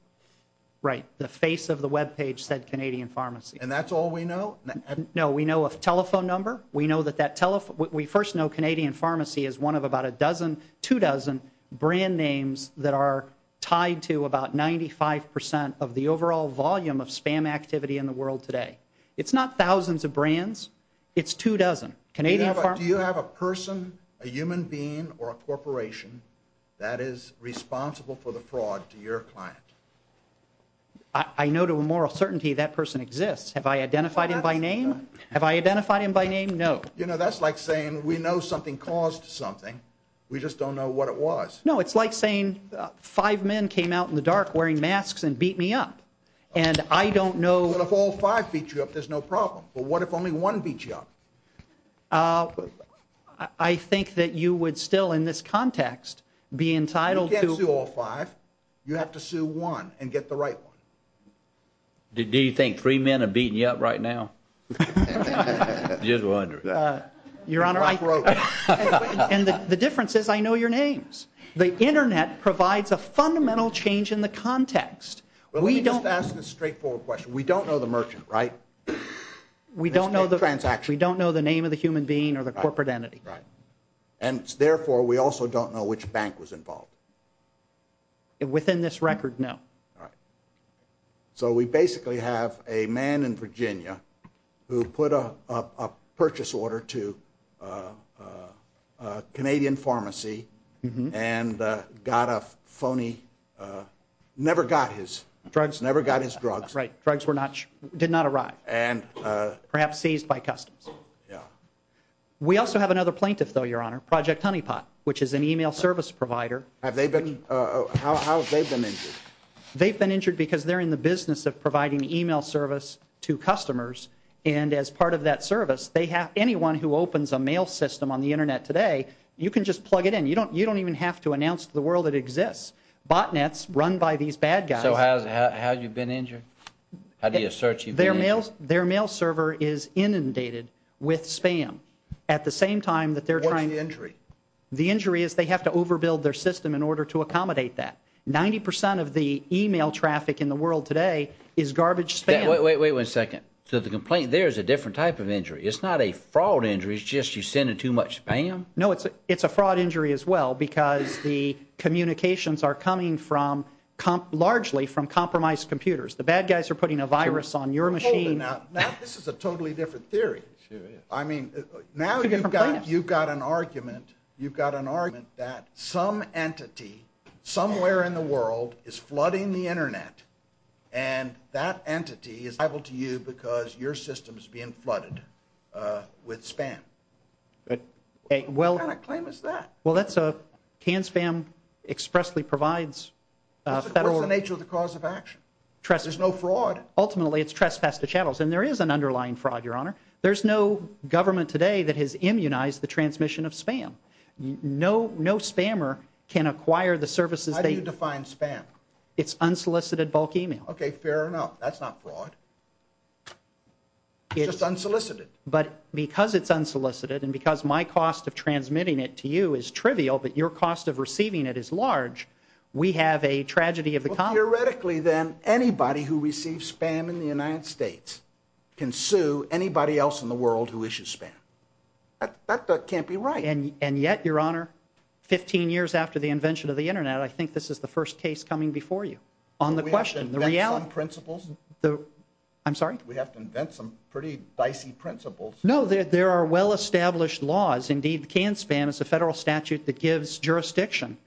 Right. The face of the webpage said Canadian Pharmacy. And that's all we know? No. We know a telephone number. We first know Canadian Pharmacy is one of about a dozen, two dozen brand names that are tied to about 95% of the overall volume of spam activity in the world today. It's not thousands of brands. It's two dozen. Do you have a person, a human being, or a corporation that is responsible for the fraud to your client? I know to a moral certainty that person exists. Have I identified him by name? Have I identified him by name? No. You know, that's like saying we know something caused something. We just don't know what it was. No, it's like saying five men came out in the dark wearing masks and beat me up. And I don't know... Well, if all five beat you up, there's no problem. But what if only one beat you up? I think that you would still in this context be entitled to... You can't sue all five. You have to sue one and get the right one. Do you think three men are beating you up right now? Just wondering. And the difference is I know your names. The internet provides a fundamental change in the context. Well, let me just ask this straightforward question. We don't know the merchant, right? We don't know the name of the human being or the corporate entity. And therefore, we also don't know which bank was involved. Within this record, no. So we basically have a man in Virginia who put a purchase order to a Canadian pharmacy and got a phony... Never got his drugs. Never got his drugs. Drugs did not arrive. Perhaps seized by customs. We also have another plaintiff, though, Your Honor, Project Honeypot, which is an email service provider. How have they been injured? They've been injured because they're in the business of providing email service to customers. And as part of that service, anyone who opens a mail system on the internet today, you can just plug it in. You don't even have to announce to the world it exists. Botnets run by these bad guys... So how have you been injured? How do you assert you've been injured? Their mail server is inundated with spam at the same time that they're trying... What's the injury? The injury is they have to overbuild their system in order to accommodate that. Ninety percent of the email traffic in the world today is garbage spam. Wait, wait, wait a second. So the complaint there is a different type of injury. It's not a fraud injury. It's just you send in too much spam? No, it's a fraud injury as well because the communications are coming from, largely from compromised computers. The bad guys are putting a virus on your machine. Hold it now. This is a totally different theory. I mean, now you've got an argument. You've got an argument that some entity somewhere in the world is flooding the Internet and that entity is liable to you because your system is being flooded with spam. What kind of claim is that? Well, that's a... Can spam expressly provides federal... What's the nature of the cause of action? There's no fraud. Ultimately, it's trespass to channels, and there is an underlying fraud, Your Honor. There's no government today that has immunized the transmission of spam. No spammer can acquire the services... How do you define spam? It's unsolicited bulk email. Okay, fair enough. That's not fraud. It's just unsolicited. But because it's unsolicited and because my cost of transmitting it to you is trivial but your cost of receiving it is large, we have a tragedy of the... Well, theoretically, then, anybody who receives spam in the United States can sue anybody else in the world who issues spam. That can't be right. And yet, Your Honor, 15 years after the invention of the Internet, I think this is the first case coming before you. On the question, the reality... Do we have to invent some principles? I'm sorry? Do we have to invent some pretty dicey principles? No, there are well-established laws. Indeed, can spam is a federal statute that gives jurisdiction.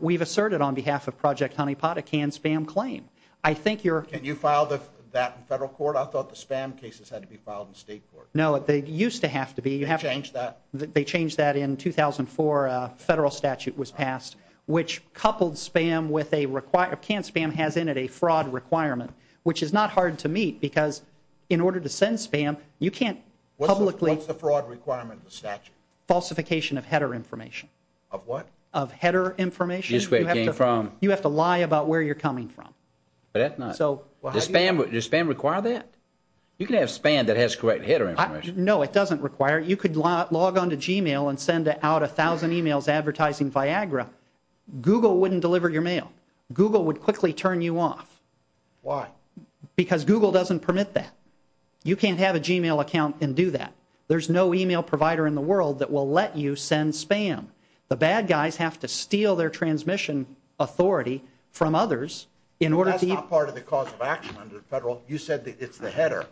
We've asserted on behalf of Project Honeypot a can spam claim. I think you're... Can you file that in federal court? I thought the spam cases had to be filed in state court. No, they used to have to be. They changed that? They changed that in 2004. A federal statute was passed, which coupled spam with a require... Can spam has in it a fraud requirement, which is not hard to meet because in order to send spam, you can't publicly... What's the fraud requirement in the statute? Falsification of header information. Of what? Of header information. You have to lie about where you're coming from. But that's not... So... Does spam require that? You can have spam that has correct header information. No, it doesn't require it. You could log on to Gmail and send out 1,000 emails advertising Viagra. Google wouldn't deliver your mail. Google would quickly turn you off. Why? Because Google doesn't permit that. You can't have a Gmail account and do that. There's no email provider in the world that will let you send spam. The bad guys have to steal their transmission authority from others in order to... That's not part of the cause of action under the federal... You said it's the header.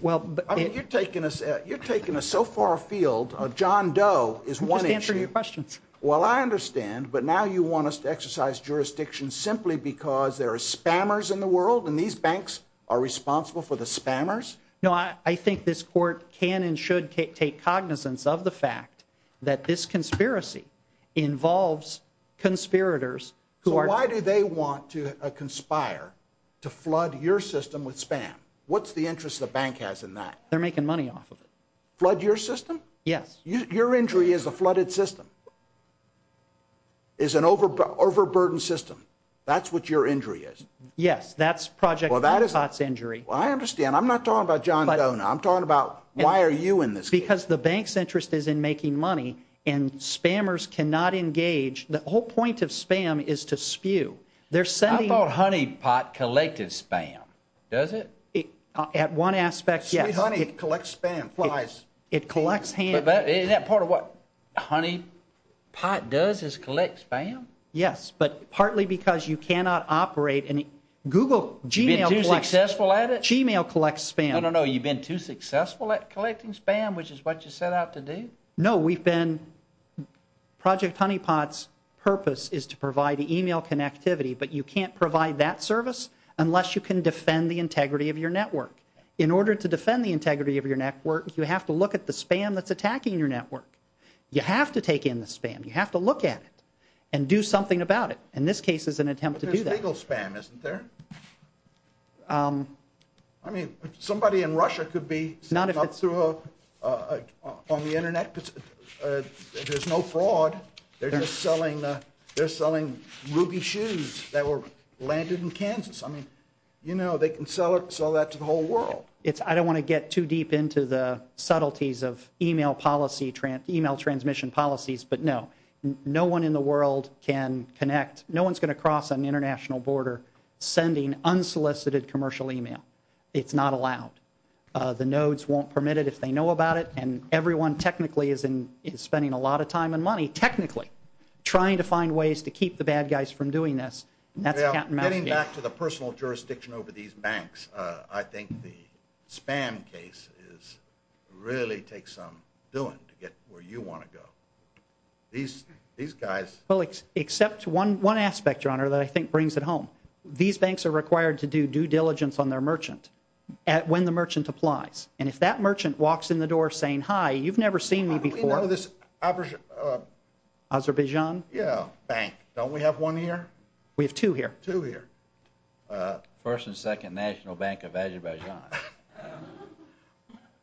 Well... You're taking us so far afield. John Doe is one issue. I'm just answering your questions. Well, I understand, but now you want us to exercise jurisdiction simply because there are spammers in the world and these banks are responsible for the spammers? No, I think this court can and should take cognizance of the fact that this conspiracy involves conspirators... So why do they want to conspire to flood your system with spam? What's the interest the bank has in that? They're making money off of it. Flood your system? Yes. Your injury is a flooded system. It's an overburdened system. That's what your injury is? Yes, that's Project Honeypot's injury. Well, I understand. I'm not talking about John Doe now. I'm talking about why are you in this case? Because the bank's interest is in making money and spammers cannot engage. The whole point of spam is to spew. They're sending... I thought Honeypot collected spam. Does it? At one aspect, yes. Sweet Honey collects spam, flies. It collects... But isn't that part of what Honeypot does is collect spam? Yes, but partly because you cannot operate... Google, Gmail collects... You've been too successful at it? Gmail collects spam. No, no, no. You've been too successful at collecting spam, which is what you set out to do? No, we've been... but you can't provide that service unless you can defend the integrity of your network. In order to defend the integrity of your network, you have to look at the spam that's attacking your network. You have to take in the spam. You have to look at it and do something about it. In this case, it's an attempt to do that. But there's legal spam, isn't there? I mean, somebody in Russia could be... Not if it's... ...on the Internet. There's no fraud. They're just selling ruby shoes that were landed in Kansas. I mean, you know, they can sell that to the whole world. I don't want to get too deep into the subtleties of email transmission policies, but no. No one in the world can connect... No one's going to cross an international border sending unsolicited commercial email. It's not allowed. The nodes won't permit it if they know about it, and everyone technically is spending a lot of time and money. Technically. Trying to find ways to keep the bad guys from doing this. Getting back to the personal jurisdiction over these banks, I think the spam case really takes some doing to get where you want to go. These guys... Well, except one aspect, Your Honor, that I think brings it home. These banks are required to do due diligence on their merchant when the merchant applies. And if that merchant walks in the door saying, How do we know this... Azerbaijan? Yeah, bank. Don't we have one here? We have two here. Two here. First and second National Bank of Azerbaijan.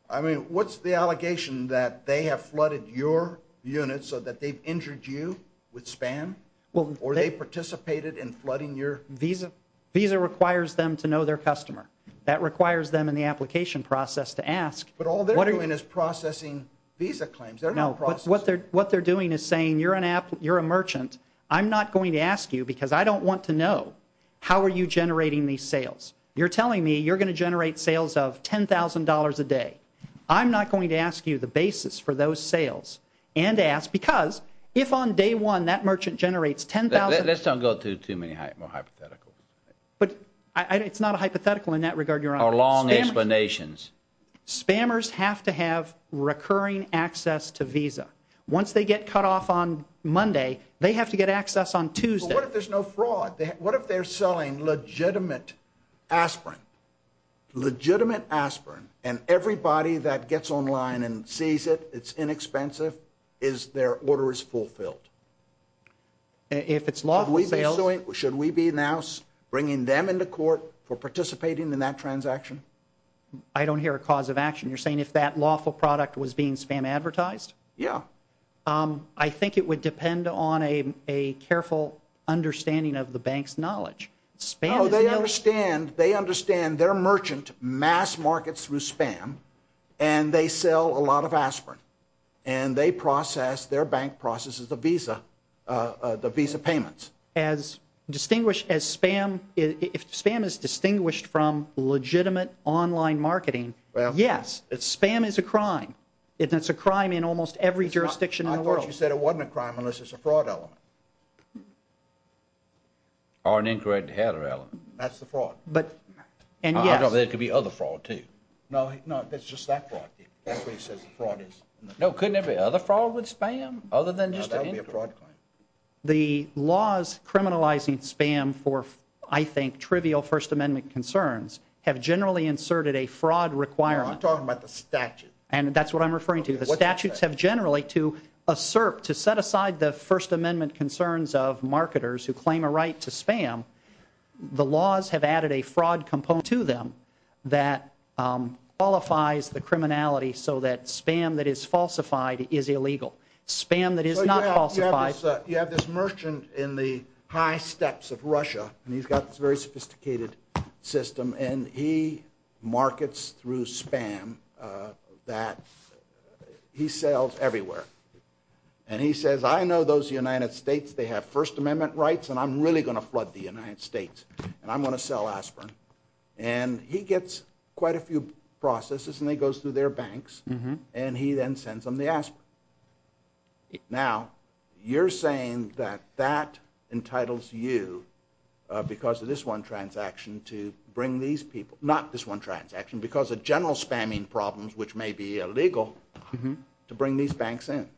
I mean, what's the allegation that they have flooded your unit so that they've injured you with spam? Or they participated in flooding your... Visa. Visa requires them to know their customer. That requires them in the application process to ask... But all they're doing is processing visa claims. What they're doing is saying, You're a merchant. I'm not going to ask you because I don't want to know how are you generating these sales. You're telling me you're going to generate sales of $10,000 a day. I'm not going to ask you the basis for those sales and ask because if on day one that merchant generates $10,000... Let's not go through too many hypotheticals. But it's not a hypothetical in that regard, Your Honor. Or long explanations. Spammers have to have recurring access to visa. Once they get cut off on Monday, they have to get access on Tuesday. But what if there's no fraud? What if they're selling legitimate aspirin? Legitimate aspirin. And everybody that gets online and sees it, it's inexpensive, is their order is fulfilled. If it's lawful sale... Should we be now bringing them into court for participating in that transaction? I don't hear a cause of action. You're saying if that lawful product was being spam advertised? Yeah. I think it would depend on a careful understanding of the bank's knowledge. No, they understand their merchant mass markets through spam and they sell a lot of aspirin. And they process, their bank processes the visa payments. If spam is distinguished from legitimate online marketing, yes, spam is a crime. It's a crime in almost every jurisdiction in the world. I thought you said it wasn't a crime unless it's a fraud element. Or an incorrect header element. That's the fraud. There could be other fraud too. No, that's just that fraud. That's what he says the fraud is. No, couldn't there be other fraud with spam? No, that would be a fraud claim. The laws criminalizing spam for, I think, trivial First Amendment concerns have generally inserted a fraud requirement. You're not talking about the statute. And that's what I'm referring to. The statutes have generally to assert, to set aside the First Amendment concerns of marketers who claim a right to spam, the laws have added a fraud component to them that qualifies the criminality so that spam that is falsified is illegal. Spam that is not falsified. You have this merchant in the high steps of Russia, and he's got this very sophisticated system, and he markets through spam that he sells everywhere. And he says, I know those United States, they have First Amendment rights, and I'm really going to flood the United States, and I'm going to sell aspirin. And he gets quite a few processes, and he goes through their banks, and he then sends them the aspirin. Now, you're saying that that entitles you, because of this one transaction, to bring these people, not this one transaction, because of general spamming problems, which may be illegal, to bring these banks in.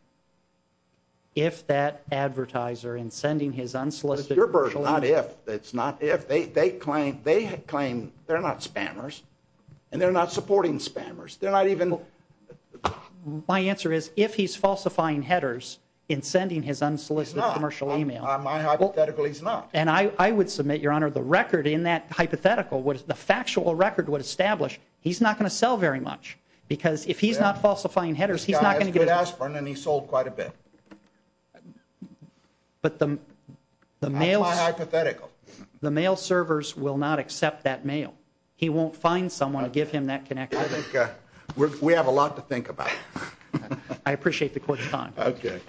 If that advertiser in sending his unsolicited... It's your version, not if. It's not if. They claim they're not spammers, and they're not supporting spammers. They're not even... My answer is, if he's falsifying headers in sending his unsolicited commercial email... He's not. My hypothetical, he's not. And I would submit, Your Honor, the record in that hypothetical, the factual record would establish he's not going to sell very much, because if he's not falsifying headers, he's not going to get... This guy has good aspirin, and he sold quite a bit. But the mail... That's my hypothetical. The mail servers will not accept that mail. He won't find someone to give him that connection. I think we have a lot to think about. I appreciate the court's time. Okay.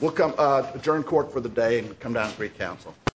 We'll adjourn court for the day and come down and brief counsel.